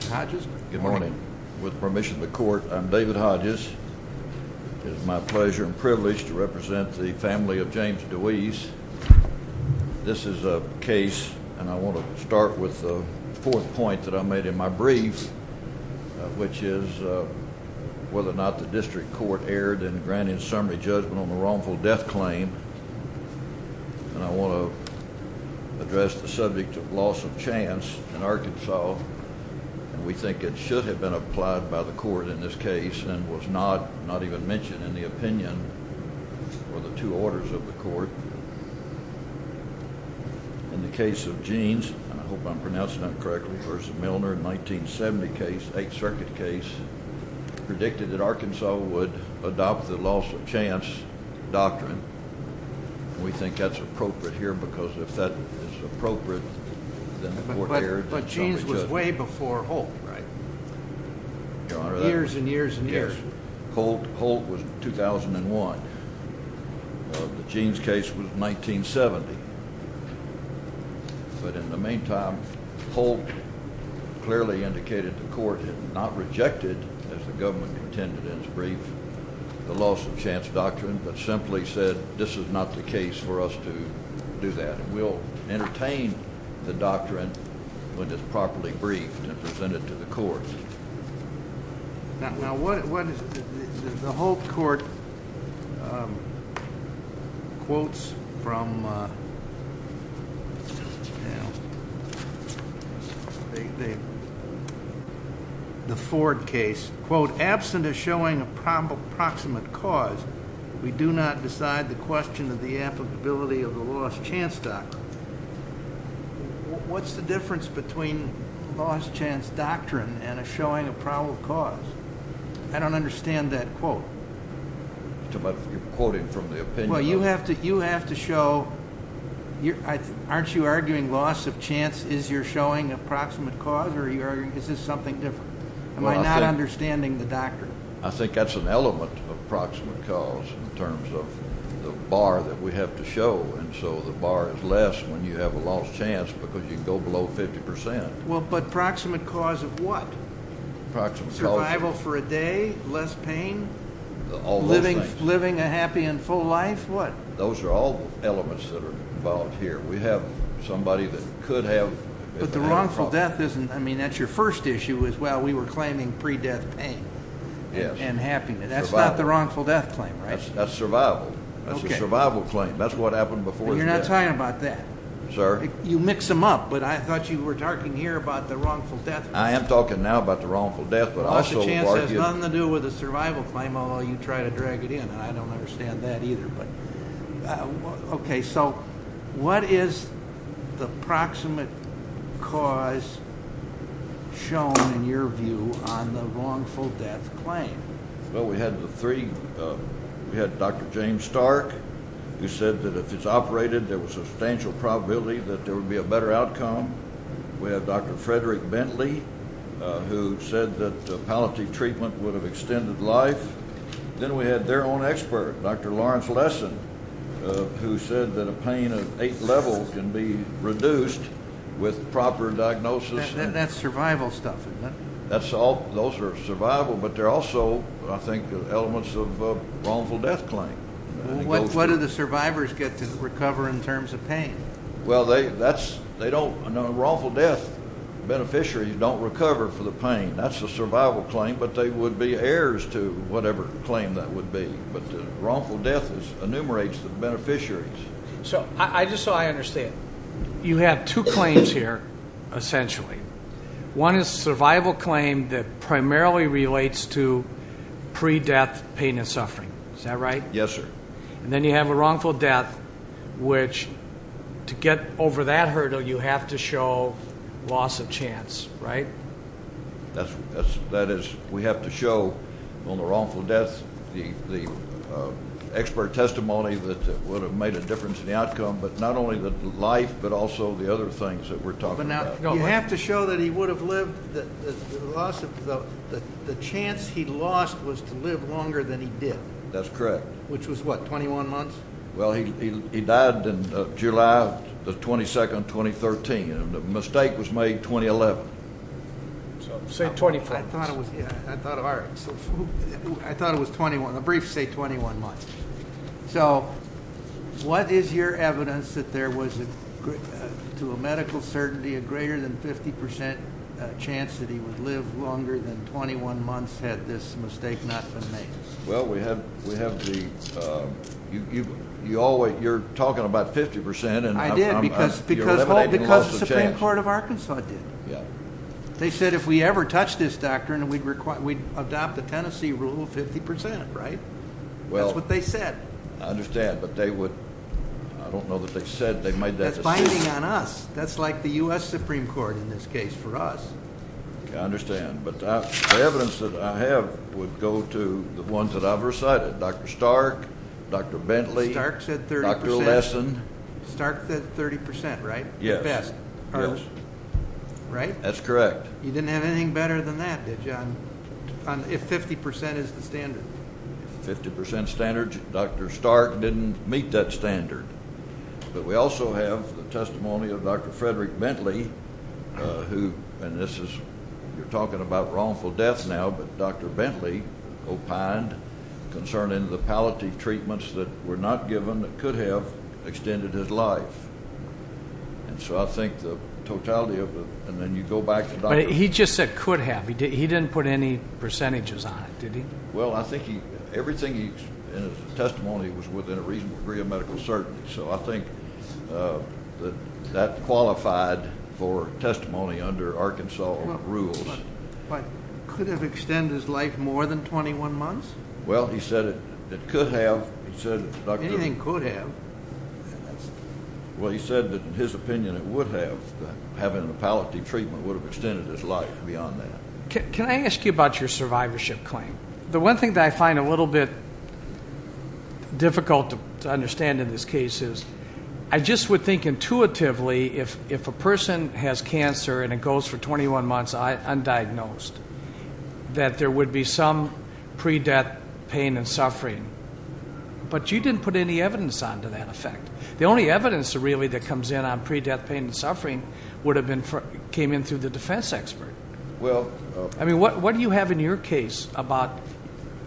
Judge's Court I'm David Hodges. It is my pleasure and privilege to represent the family of James Deweese. This is a case and I want to start with the fourth point that I made in my brief which is whether or not the district court erred in granting summary judgment on the wrongful death claim and I want to address the subject of loss of chance in Arkansas and we think it should have been applied by the court in this case and was not not even mentioned in the opinion or the two orders of the court. In the case of Jeans and I hope I'm pronouncing that correctly versus Milner in 1970 case eighth circuit case predicted that Arkansas would adopt the loss of chance doctrine. We think that's appropriate but Jeans was way before Holt right years and years and years. Holt was 2001. The Jeans case was 1970 but in the meantime Holt clearly indicated the court had not rejected as the government intended in his brief the loss of chance doctrine but simply said this is not the doctrine which is properly briefed and presented to the court. Now what is the Holt court quotes from the Ford case quote absent of showing a proper proximate cause we do not decide the question of the applicability of the lost chance doctrine. What's the difference between lost chance doctrine and a showing a probable cause? I don't understand that quote. Too much you're quoting from the opinion. Well you have to you have to show you're aren't you arguing loss of chance is you're showing approximate cause or are you arguing is this something different? Am I not understanding the doctrine? I think that's an bar that we have to show and so the bar is less when you have a lost chance because you go below 50 percent. Well but proximate cause of what? Survival for a day, less pain, living a happy and full life what? Those are all elements that are involved here. We have somebody that could have but the wrongful death isn't I mean that's your first issue as well we were claiming pre-death pain yes and happiness that's not the wrongful death claim right that's survival that's a survival claim that's what happened before you're not talking about that sir you mix them up but I thought you were talking here about the wrongful death I am talking now about the wrongful death but also the chance has nothing to do with a survival claim although you try to drag it in and I don't understand that either but okay so what is the proximate cause shown in your view on the wrongful death claim? Well we had the three we had Dr. James Stark who said that if it's operated there was a substantial probability that there would be a better outcome we have Dr. Frederick Bentley who said that the palliative treatment would have extended life then we had their own expert Dr. Lawrence Lesson who said that a pain of eight levels can be reduced with proper diagnosis and that's survival stuff that's all those are survival but they're also I think elements of wrongful death claim what do the survivors get to recover in terms of pain well they that's they don't know wrongful death beneficiaries don't recover for the pain that's the survival claim but they would be heirs to whatever claim that would be but wrongful death enumerates the beneficiaries so I just so I understand you have two claims here essentially one is survival claim that primarily relates to pre-death pain and suffering is that right yes sir and then you have a wrongful death which to get over that hurdle you have to show loss of chance right that's that is we have to show on the wrongful death the the expert testimony that would have made a difference in the outcome but not only the life but also the other things that we're talking about you have to show that he would have lived that the loss of the the chance he lost was to live longer than he did that's correct which was what 21 months well he he died in the 22nd 2013 and the mistake was made 2011 so say 25 I thought it was yeah I thought all right I thought it was 21 a brief say 21 months so what is your evidence that there was a to a medical certainty a greater than 50 percent chance that he would live longer than 21 months had this mistake not been made well we have we have the um you you always you're talking about 50 percent and I did because because because the supreme court of Arkansas did yeah they said if we ever touch this doctrine we'd require we'd adopt the Tennessee rule of 50 right well that's what they said I understand but they would I don't know that they said they made that finding on us that's like the U.S. Supreme Court in this case for us I understand but the evidence that I have would go to the ones that I've recited Dr. Stark, Dr. Bentley, Stark said 30 percent right yes right that's correct you didn't have anything better than that did you on if 50 percent is the standard 50 percent standard Dr. Stark didn't meet that standard but we also have the testimony of Dr. Frederick Bentley who and this is you're talking about wrongful death now but Dr. Bentley opined concerning the palliative treatments that were not given that could have extended his life and so I think the totality of it and then you go back to the doctor he just said could have he didn't put any percentages on it did he well I think he everything he's in his testimony was within a reasonable degree of medical certainty so I think that that qualified for testimony under Arkansas rules but could have extended his life more than 21 months well he said it it could have he said anything could have well he said that in his opinion it would have having a palliative treatment would have extended his life beyond that can I ask you about your survivorship claim the one thing that I find a little bit difficult to understand in this case is I just would think intuitively if if a person has cancer and it goes for 21 months undiagnosed that there would be some pre-death pain and suffering but you didn't put any evidence on to that effect the only evidence really that comes in on pre-death pain and suffering would have been for came in through the defense expert well I mean what what do you have in your case about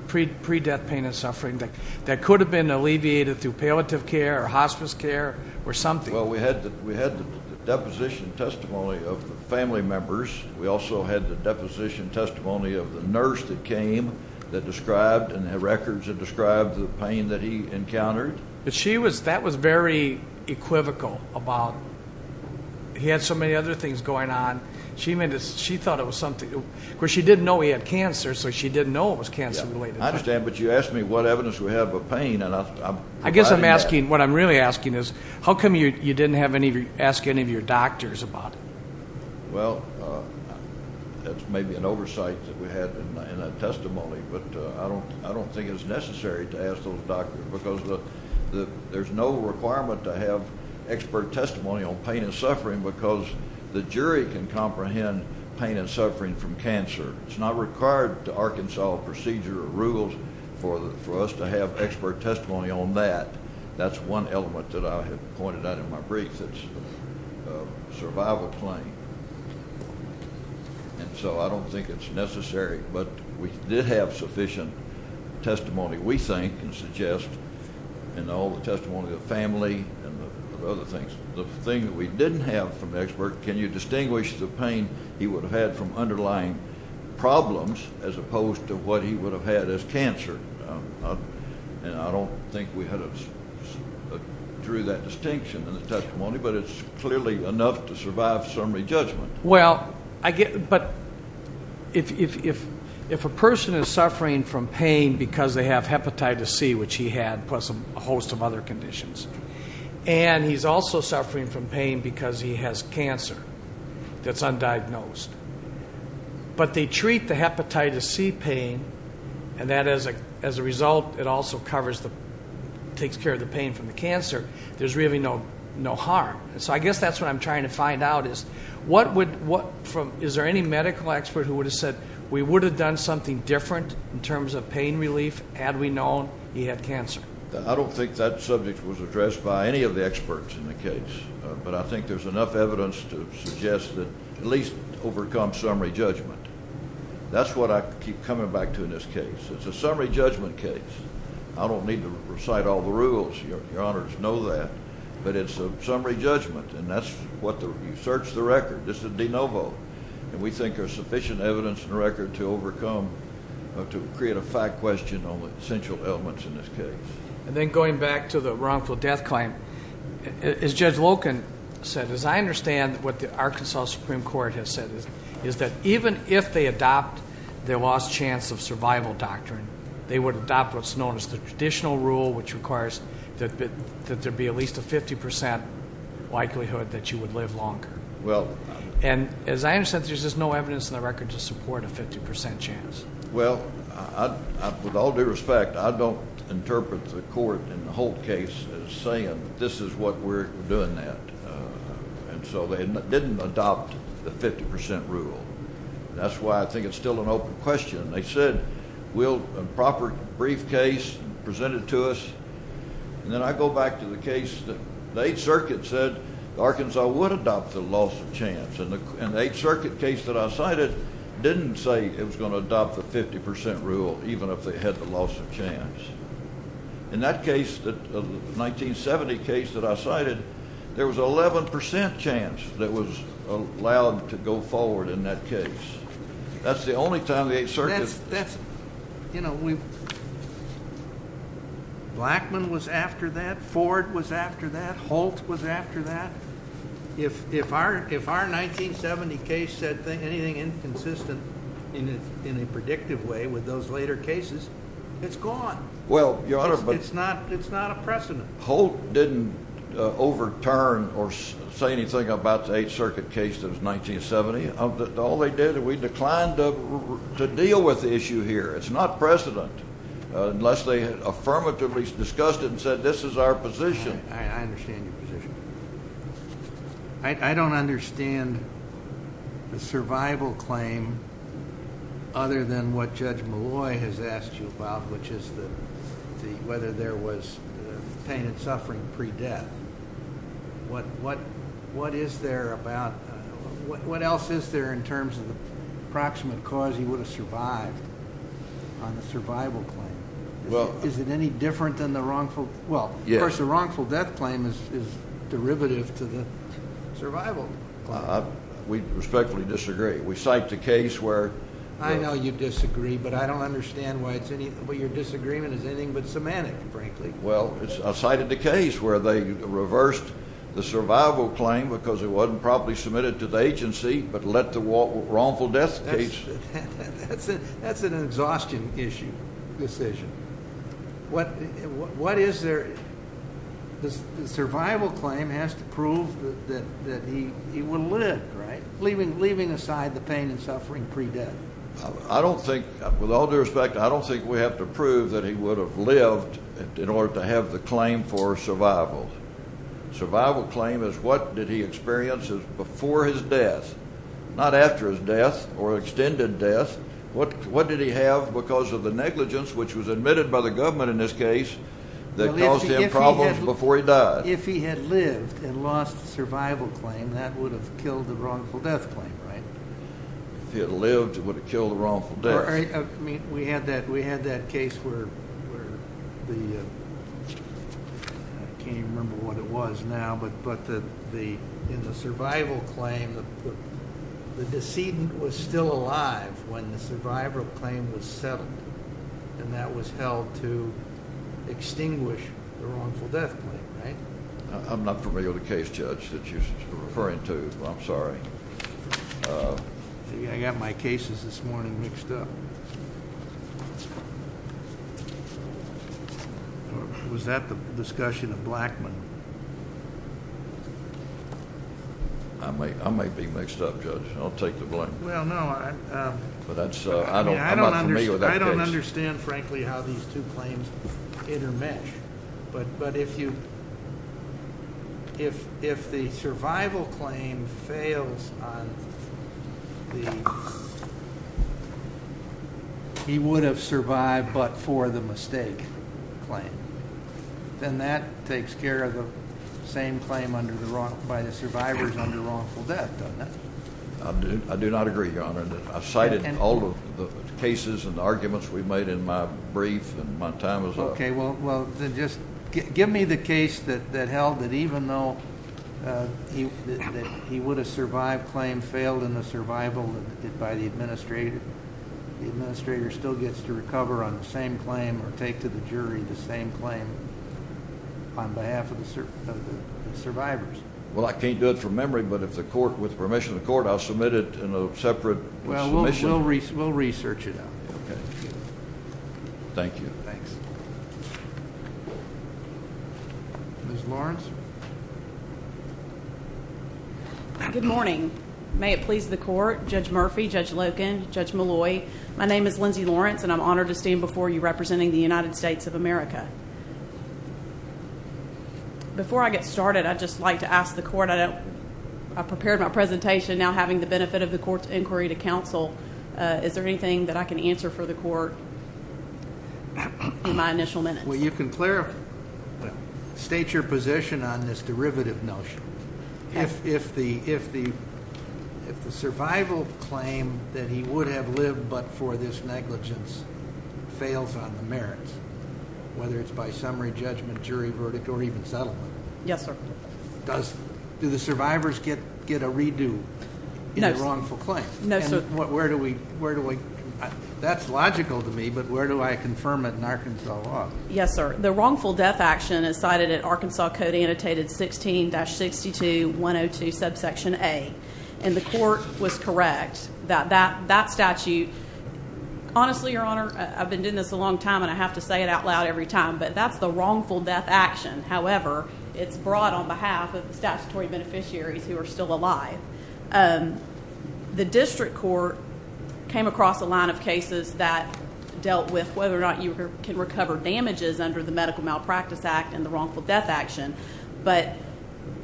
pre-death pain and suffering that could have been alleviated through palliative care or hospice care or something well we had that we had the deposition testimony of the family members we also had the deposition testimony of the nurse that came that described and the records that described the pain that he thought it was something where she didn't know he had cancer so she didn't know it was cancer related I understand but you asked me what evidence we have of pain and I'm I guess I'm asking what I'm really asking is how come you you didn't have any ask any of your doctors about it well that's maybe an oversight that we had in a testimony but I don't I don't think it's necessary to ask those doctors because the the there's no requirement to have expert testimony on pain and comprehend pain and suffering from cancer it's not required to Arkansas procedure rules for the for us to have expert testimony on that that's one element that I have pointed out in my brief that's a survival claim and so I don't think it's necessary but we did have sufficient testimony we think and suggest and all the testimony of family and other things the thing that we didn't have from expert can you distinguish the pain he would have had from underlying problems as opposed to what he would have had as cancer and I don't think we had a drew that distinction in the testimony but it's clearly enough to survive summary judgment well I get but if if if if a person is suffering from pain because they have hepatitis c which he had a host of other conditions and he's also suffering from pain because he has cancer that's undiagnosed but they treat the hepatitis c pain and that as a as a result it also covers the takes care of the pain from the cancer there's really no no harm so I guess that's what I'm trying to find out is what would what from is there any medical expert who would have said we would have done something different in terms of pain relief had we known he had cancer I don't think that subject was addressed by any of the experts in the case but I think there's enough evidence to suggest that at least overcome summary judgment that's what I keep coming back to in this case it's a summary judgment case I don't need to recite all the rules your honors know that but it's a summary judgment and that's what the you search the record this is de novo and we think sufficient evidence and record to overcome to create a fact question on the essential elements in this case and then going back to the wrongful death claim as judge locan said as I understand what the Arkansas Supreme Court has said is is that even if they adopt their last chance of survival doctrine they would adopt what's known as the traditional rule which requires that that there be at least a 50 percent likelihood that you would live longer well and as I understand there's just no evidence in the record to support a 50 chance well I with all due respect I don't interpret the court in the whole case as saying this is what we're doing that and so they didn't adopt the 50 rule that's why I think it's still an open question they said we'll a proper briefcase presented to us and then I go back to the case that the eighth circuit said Arkansas would adopt the loss of chance and the eighth circuit case that I cited didn't say it was going to adopt the 50 rule even if they had the loss of chance in that case that the 1970 case that I cited there was 11 chance that was allowed to go forward in that case that's the only time the 8th circuit that's you know we Blackman was after that Ford was after that Holt was after that if if our if our 1970 case said anything inconsistent in a predictive way with those later cases it's gone well your honor but it's not it's not a precedent Holt didn't overturn or say anything about the 8th circuit case that was 1970 of that all they did we declined to deal with the issue here it's not precedent unless they affirmatively discussed it and said this is our position I understand your position I don't understand the survival claim other than what judge Malloy has asked you about which is the the whether there was pain and suffering pre-death what what what is there about what survival claim well is it any different than the wrongful well of course the wrongful death claim is is derivative to the survival we respectfully disagree we cite the case where I know you disagree but I don't understand why it's anything but your disagreement is anything but semantic frankly well it's I cited the case where they reversed the survival claim because it wasn't properly submitted to the agency but let the wrongful death case that's it that's an exhaustion issue decision what what is there the survival claim has to prove that that that he he would live right leaving leaving aside the pain and suffering pre-death I don't think with all due respect I don't think we have to prove that he would have lived in order to have the claim for survival survival claim is what did he experience before his death not after his death or extended death what what did he have because of the negligence which was admitted by the government in this case that caused him problems before he died if he had lived and lost the survival claim that would have killed the wrongful death claim right if he had lived it would have killed the I mean we had that we had that case where where the I can't remember what it was now but but the the in the survival claim the the decedent was still alive when the survival claim was settled and that was held to extinguish the wrongful death claim right I'm not familiar with the case that you're referring to I'm sorry I got my cases this morning mixed up was that the discussion of Blackmon I might I might be mixed up judge I'll take the blame well no I um but that's uh I don't I don't understand frankly how these two claims intermesh but but if you if if the survival claim fails on the he would have survived but for the mistake claim then that takes care of the same claim under the wrong by the survivors under wrongful death doesn't it I do I do not agree your honor I cited all of the cases and arguments we made in my brief and my time is up okay well well then just give me the case that that held that even though uh he that he would have survived claim failed in the survival that by the administrator the administrator still gets to recover on the same claim or take to the jury the same claim on behalf of the survivors well I can't do it from memory but if the court with permission of the court I'll submit it in a separate well we'll we'll research it out okay thank you thanks Ms. Lawrence good morning may it please the court Judge Murphy, Judge Loken, Judge Malloy my name is Lindsay Lawrence and I'm honored to stand before you representing the United States of America before I get started I'd just like to ask the court I don't I prepared my presentation now having the benefit of the court's inquiry to counsel uh is there anything that I can answer for the court in my initial minutes well you can clarify state your position on this derivative notion if if the if the if the survival claim that he would have lived but for this negligence fails on the merits whether it's by summary judgment jury verdict or even settlement yes sir does do the survivors get get a redo in a wrongful claim no sir where do we where do we that's logical to me but where do I confirm it in Arkansas law yes sir the wrongful death action is cited in Arkansas code annotated 16-62-102 subsection a and the court was correct that that statute honestly your honor I've been doing this a long time and I have to say it out loud every time but that's the wrongful death action however it's brought on behalf of the statutory beneficiaries who are still alive the district court came across a line of cases that dealt with whether or not you can recover damages under the medical malpractice act and the wrongful death action but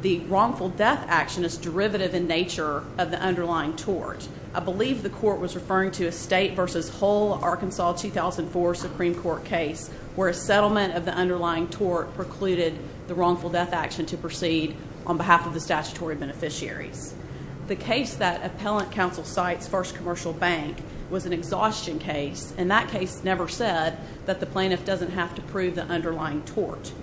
the wrongful action is derivative in nature of the underlying tort I believe the court was referring to a state versus whole Arkansas 2004 supreme court case where a settlement of the underlying tort precluded the wrongful death action to proceed on behalf of the statutory beneficiaries the case that appellant counsel cites first commercial bank was an exhaustion case and that case never said that the plaintiff doesn't have to prove the underlying tort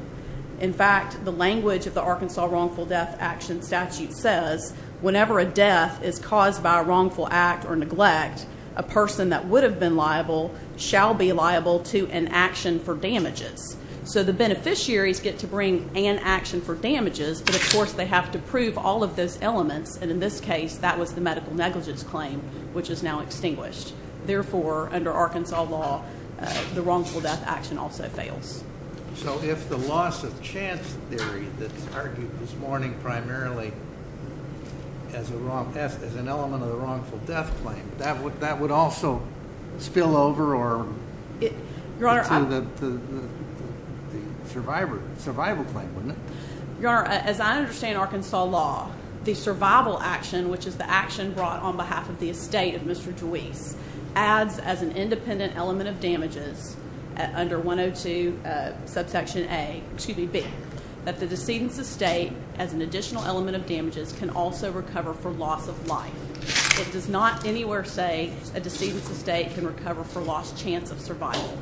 in fact the language of the says whenever a death is caused by a wrongful act or neglect a person that would have been liable shall be liable to an action for damages so the beneficiaries get to bring an action for damages but of course they have to prove all of those elements and in this case that was the medical negligence claim which is now extinguished therefore under Arkansas law the wrongful as a wrong as an element of the wrongful death claim that would that would also spill over or your honor the the survivor survival claim wouldn't it your honor as I understand Arkansas law the survival action which is the action brought on behalf of the estate of Mr. Dweese adds as an independent element of damages under 102 uh subsection a excuse me b that the decedent estate as an additional element of damages can also recover for loss of life it does not anywhere say a decedent's estate can recover for lost chance of survival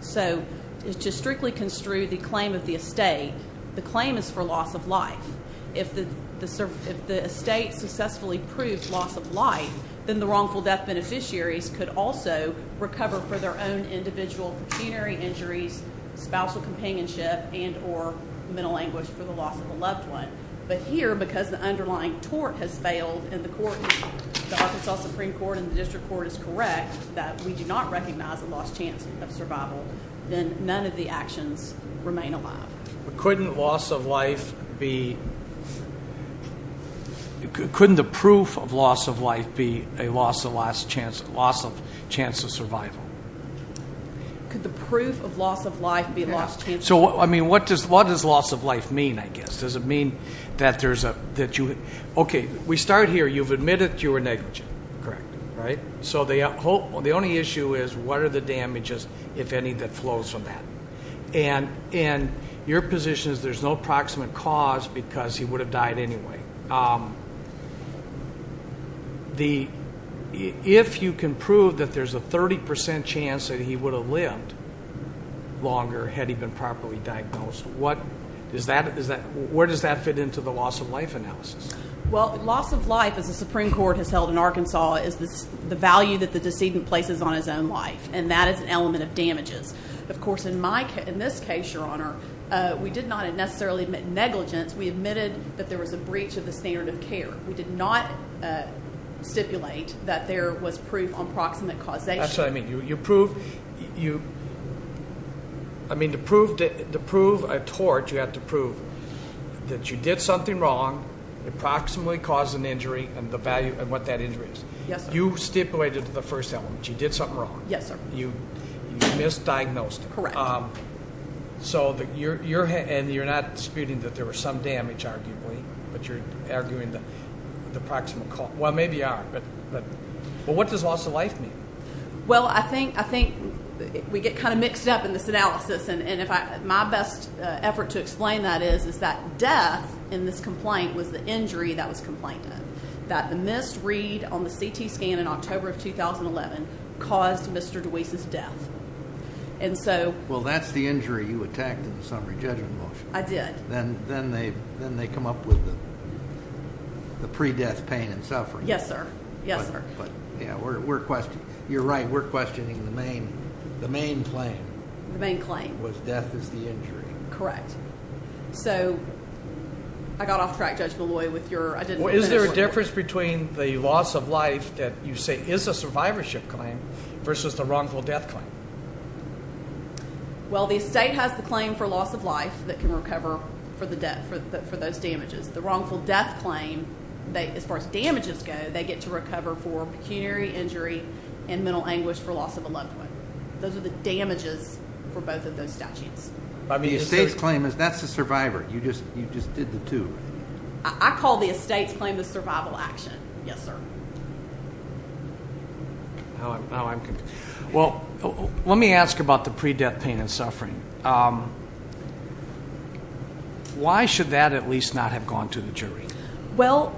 so to strictly construe the claim of the estate the claim is for loss of life if the the if the estate successfully proved loss of life then the wrongful death beneficiaries could also recover for their own individual pecuniary injuries spousal companionship and or mental anguish for the loss of a loved one but here because the underlying tort has failed and the court the Arkansas supreme court and the district court is correct that we do not recognize a lost chance of survival then none of the actions remain alive but couldn't loss of life be couldn't the proof of loss of life be a loss of last chance loss of chance of survival the proof of loss of life be lost so I mean what does what does loss of life mean I guess does it mean that there's a that you okay we start here you've admitted you were negligent correct right so they hope the only issue is what are the damages if any that flows from that and in your position is there's no approximate cause because he would have died anyway um the if you can prove that there's a 30 chance that he would have lived longer had he been properly diagnosed what is that is that where does that fit into the loss of life analysis well loss of life as the supreme court has held in Arkansas is this the value that the decedent places on his own life and that is an element of damages of course in my case in this case your honor uh we did not necessarily admit negligence we admitted that there was a breach of the standard of care we did not uh stipulate that there was proof on proximate causation that's what I mean you you prove you I mean to prove to prove a tort you have to prove that you did something wrong approximately cause an injury and the value and what that injury is yes you stipulated the first element you did something wrong yes sir you misdiagnosed correct um so that your your and you're not disputing that there was some damage arguably but you're arguing the the proximal call well maybe you are but but well what does loss of life mean well I think I think we get kind of mixed up in this analysis and and if I my best uh effort to explain that is is that death in this complaint was the injury that was complained of that the missed read on the ct scan in October of 2011 caused Mr. Deweese's death and so well that's the injury you attacked in the I did then then they then they come up with the the pre-death pain and suffering yes sir yes sir but yeah we're we're questioning you're right we're questioning the main the main claim the main claim was death is the injury correct so I got off track Judge Malloy with your is there a difference between the loss of life that you say is a survivorship claim versus the wrongful death claim well the estate has the claim for loss of life that can recover for the death for those damages the wrongful death claim they as far as damages go they get to recover for pecuniary injury and mental anguish for loss of a loved one those are the damages for both of those statutes by the estate's claim is that's the survivor you just you just did the two I call the estate's claim the survival action yes sir now I'm now I'm confused well let me ask about the pre-death pain and suffering why should that at least not have gone to the jury well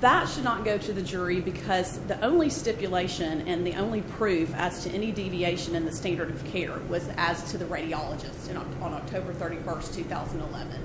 that should not go to the jury because the only stipulation and the only proof as to any deviation in the standard of care was as to the radiologist on October 31st 2011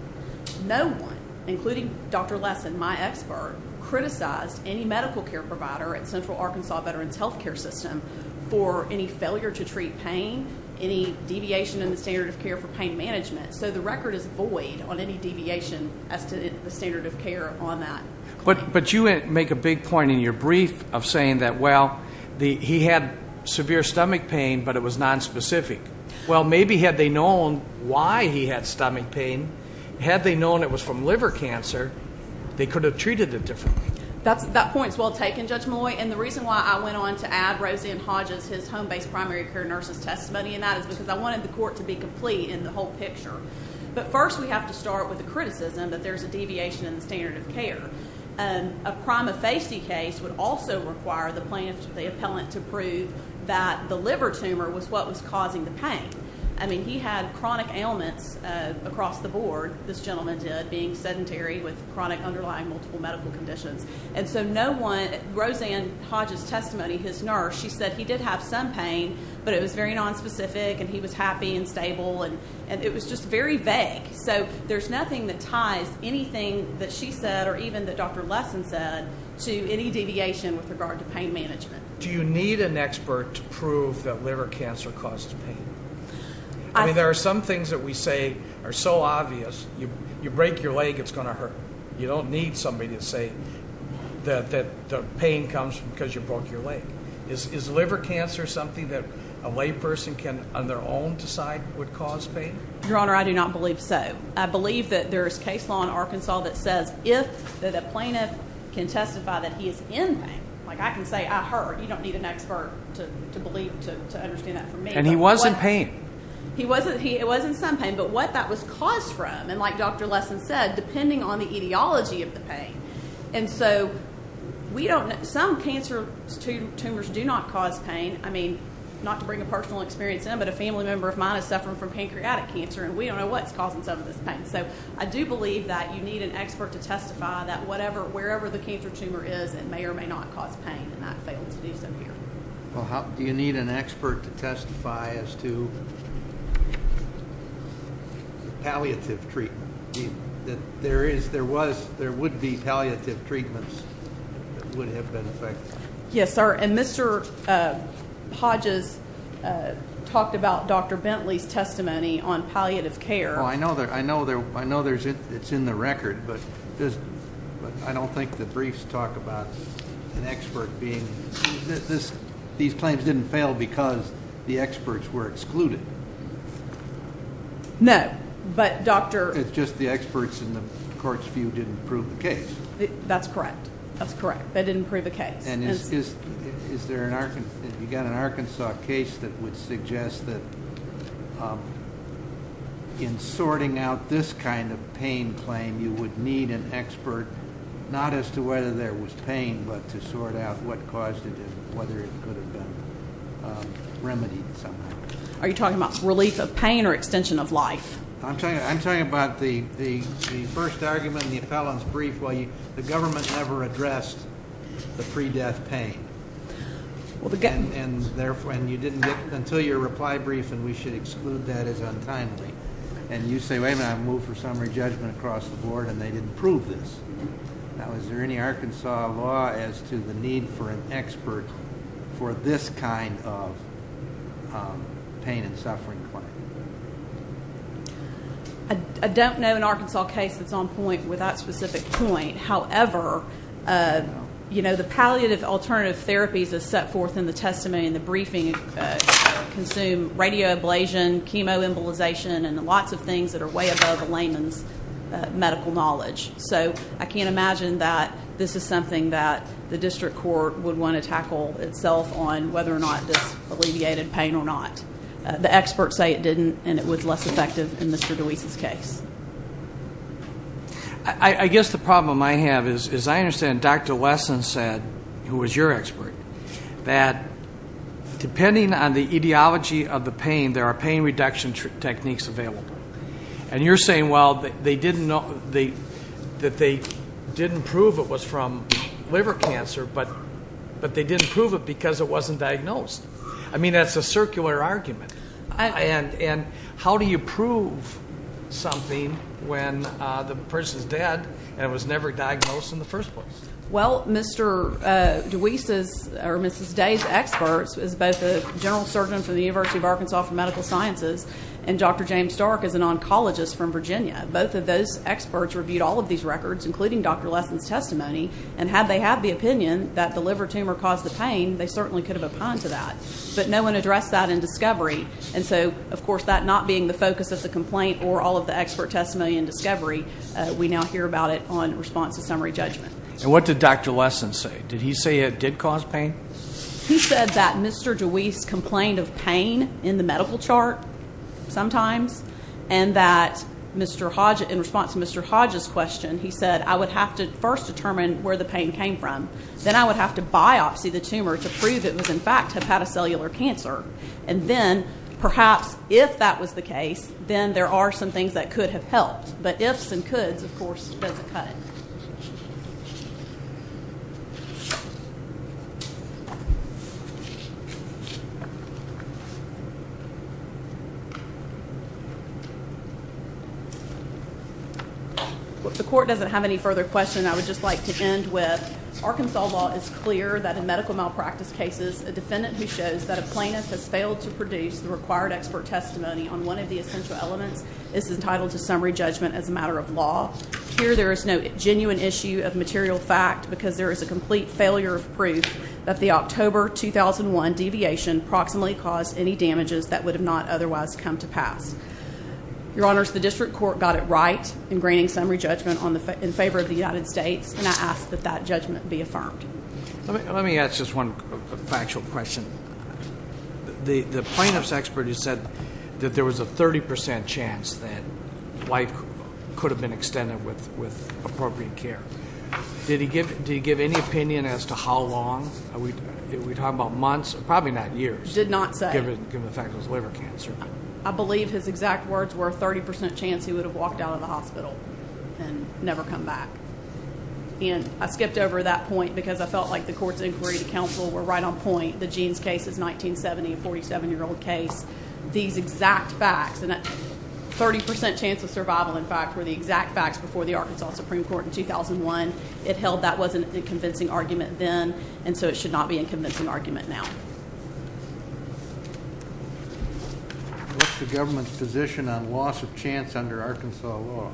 no one including Dr. Lesson my expert criticized any medical care at Central Arkansas Veterans Health Care System for any failure to treat pain any deviation in the standard of care for pain management so the record is void on any deviation as to the standard of care on that but but you make a big point in your brief of saying that well the he had severe stomach pain but it was non-specific well maybe had they known why he had stomach pain had they known it from liver cancer they could have treated it differently that's that point is well taken Judge Malloy and the reason why I went on to add Rosie and Hodges his home-based primary care nurse's testimony and that is because I wanted the court to be complete in the whole picture but first we have to start with the criticism that there's a deviation in the standard of care and a prima facie case would also require the plaintiff the appellant to prove that the liver tumor was what was causing the pain I mean he had chronic ailments across the board this gentleman did being sedentary with chronic underlying multiple medical conditions and so no one Roseanne Hodges testimony his nurse she said he did have some pain but it was very non-specific and he was happy and stable and and it was just very vague so there's nothing that ties anything that she said or even that Dr. Lesson said to any deviation with regard to pain management do you need an expert to prove that liver cancer causes pain I mean there are some things that we say are so obvious you you break your leg it's going to hurt you don't need somebody to say that that the pain comes because you broke your leg is is liver cancer something that a lay person can on their own decide would cause pain your honor I do not believe so I believe that there is case law in Arkansas that says if that a plaintiff can testify that he is in pain like I can say I heard you don't need an expert to to believe to understand that for me and he wasn't he wasn't he it wasn't some pain but what that was caused from and like Dr. Lesson said depending on the etiology of the pain and so we don't some cancer tumors do not cause pain I mean not to bring a personal experience in but a family member of mine is suffering from pancreatic cancer and we don't know what's causing some of this pain so I do believe that you need an expert to testify that whatever wherever the cancer tumor is and may or may not cause pain and that failed to do so here well how do you need an expert to testify as to palliative treatment that there is there was there would be palliative treatments that would have been effective yes sir and Mr. Hodges talked about Dr. Bentley's testimony on palliative care I know that I know there I know there's it it's in the record but but I don't think the briefs talk about an expert being this these claims didn't fail because the experts were excluded no but doctor it's just the experts in the court's view didn't prove the case that's correct that's correct they didn't prove the case and is is is there an arkansas you got an arkansas case that that um in sorting out this kind of pain claim you would need an expert not as to whether there was pain but to sort out what caused it and whether it could have been um remedied somehow are you talking about relief of pain or extension of life I'm talking I'm talking about the the the first argument in the appellant's brief while you the government never addressed the pre-death pain well the gun and therefore and you didn't get until your reply brief and we should exclude that as untimely and you say wait a minute move for summary judgment across the board and they didn't prove this now is there any arkansas law as to the need for an expert for this kind of pain and suffering claim I don't know an arkansas case that's on point with that specific point however you know the palliative alternative therapies is set forth in the testimony in the briefing consume radio ablation chemo embolization and lots of things that are way above layman's medical knowledge so I can't imagine that this is something that the district court would want to tackle itself on whether or not this alleviated pain or not the experts say it didn't and it was less effective in Mr. Deweese's case I I guess the problem I have is as I understand Dr. Lesson said who was your expert that depending on the ideology of the pain there are pain reduction techniques available and you're saying well they didn't know they that they didn't prove it was from liver cancer but but they didn't prove it because it wasn't diagnosed I mean that's a circular argument and and how do you prove something when the person's dead and was never diagnosed in the first place well Mr. Deweese's or Mrs. Day's experts is both a general surgeon for the University of Arkansas for medical sciences and Dr. James Stark is an oncologist from Virginia both of those experts reviewed all of these records including Dr. Lesson's testimony and had they had the opinion that the liver tumor caused the pain they certainly could have opposed to that but no one addressed that in discovery and so of course that not being the focus of the complaint or all of the expert testimony in discovery we now hear about it on response to summary judgment and what did Dr. Lesson say did he say it did cause pain he said that Mr. Deweese complained of pain in the medical chart sometimes and that Mr. Hodge in response to Mr. Hodge's question he said I would have to first determine where the pain came from then I would have to biopsy the tumor to prove it was in fact hepatocellular cancer and then perhaps if that was the case then there are some things that could have helped but ifs and coulds of course doesn't cut it if the court doesn't have any questions I would just like to end with Arkansas law is clear that in medical malpractice cases a defendant who shows that a plaintiff has failed to produce the required expert testimony on one of the essential elements is entitled to summary judgment as a matter of law here there is no genuine issue of material fact because there is a complete failure of proof that the October 2001 deviation approximately caused any damages that would have not otherwise come to pass your honors the district court got it right in granting summary judgment on the in favor of the United States and I ask that that judgment be affirmed let me let me ask just one factual question the the plaintiff's expert has said that there was a 30 percent chance that life could have been extended with with appropriate care did he give did he give any opinion as to how long are we talking about months probably not years did not say given the fact was liver cancer I believe his exact words were 30 percent chance he would have walked out of the hospital and never come back and I skipped over that point because I felt like the court's inquiry to counsel were right on point the jeans case is 1970 a 47 year old case these exact facts and 30 percent chance of survival in fact were the exact facts before the Arkansas Supreme Court in 2001 it held that wasn't a convincing argument then and so it should not be in convincing argument now what's the government's position on loss of chance under Arkansas law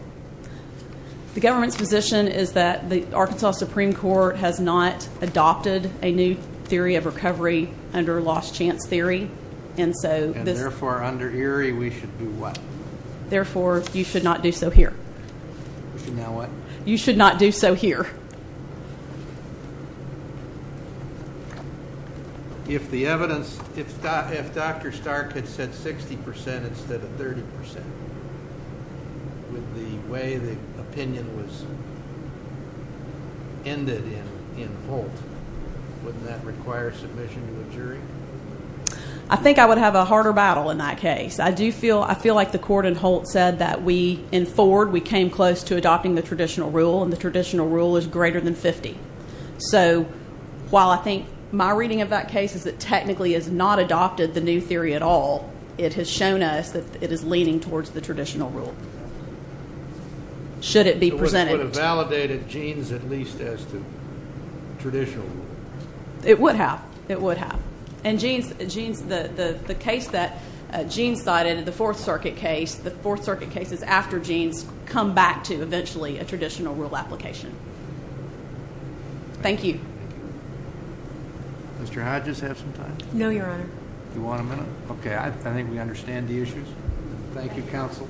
the government's position is that the Arkansas Supreme Court has not adopted a new theory of recovery under lost chance theory and so therefore under Erie we should do what therefore you should not do so here now what you should not do so here now if the evidence if if Dr. Stark had said 60 percent instead of 30 percent with the way the opinion was ended in in Holt wouldn't that require submission to a jury I think I would have a harder battle in that case I do feel I feel like the court in Holt said that we in Ford we came close to adopting the traditional rule and the traditional rule is greater than 50 so while I think my reading of that case is that technically has not adopted the new theory at all it has shown us that it is leaning towards the traditional rule should it be presented validated genes at least as to traditional rule it would have it would have and genes genes the the case that gene cited the fourth circuit case the fourth circuit case is after genes come back to eventually a traditional rule application thank you Mr. Hodges have some time no your honor you want a minute okay I think we understand the issues thank you counsel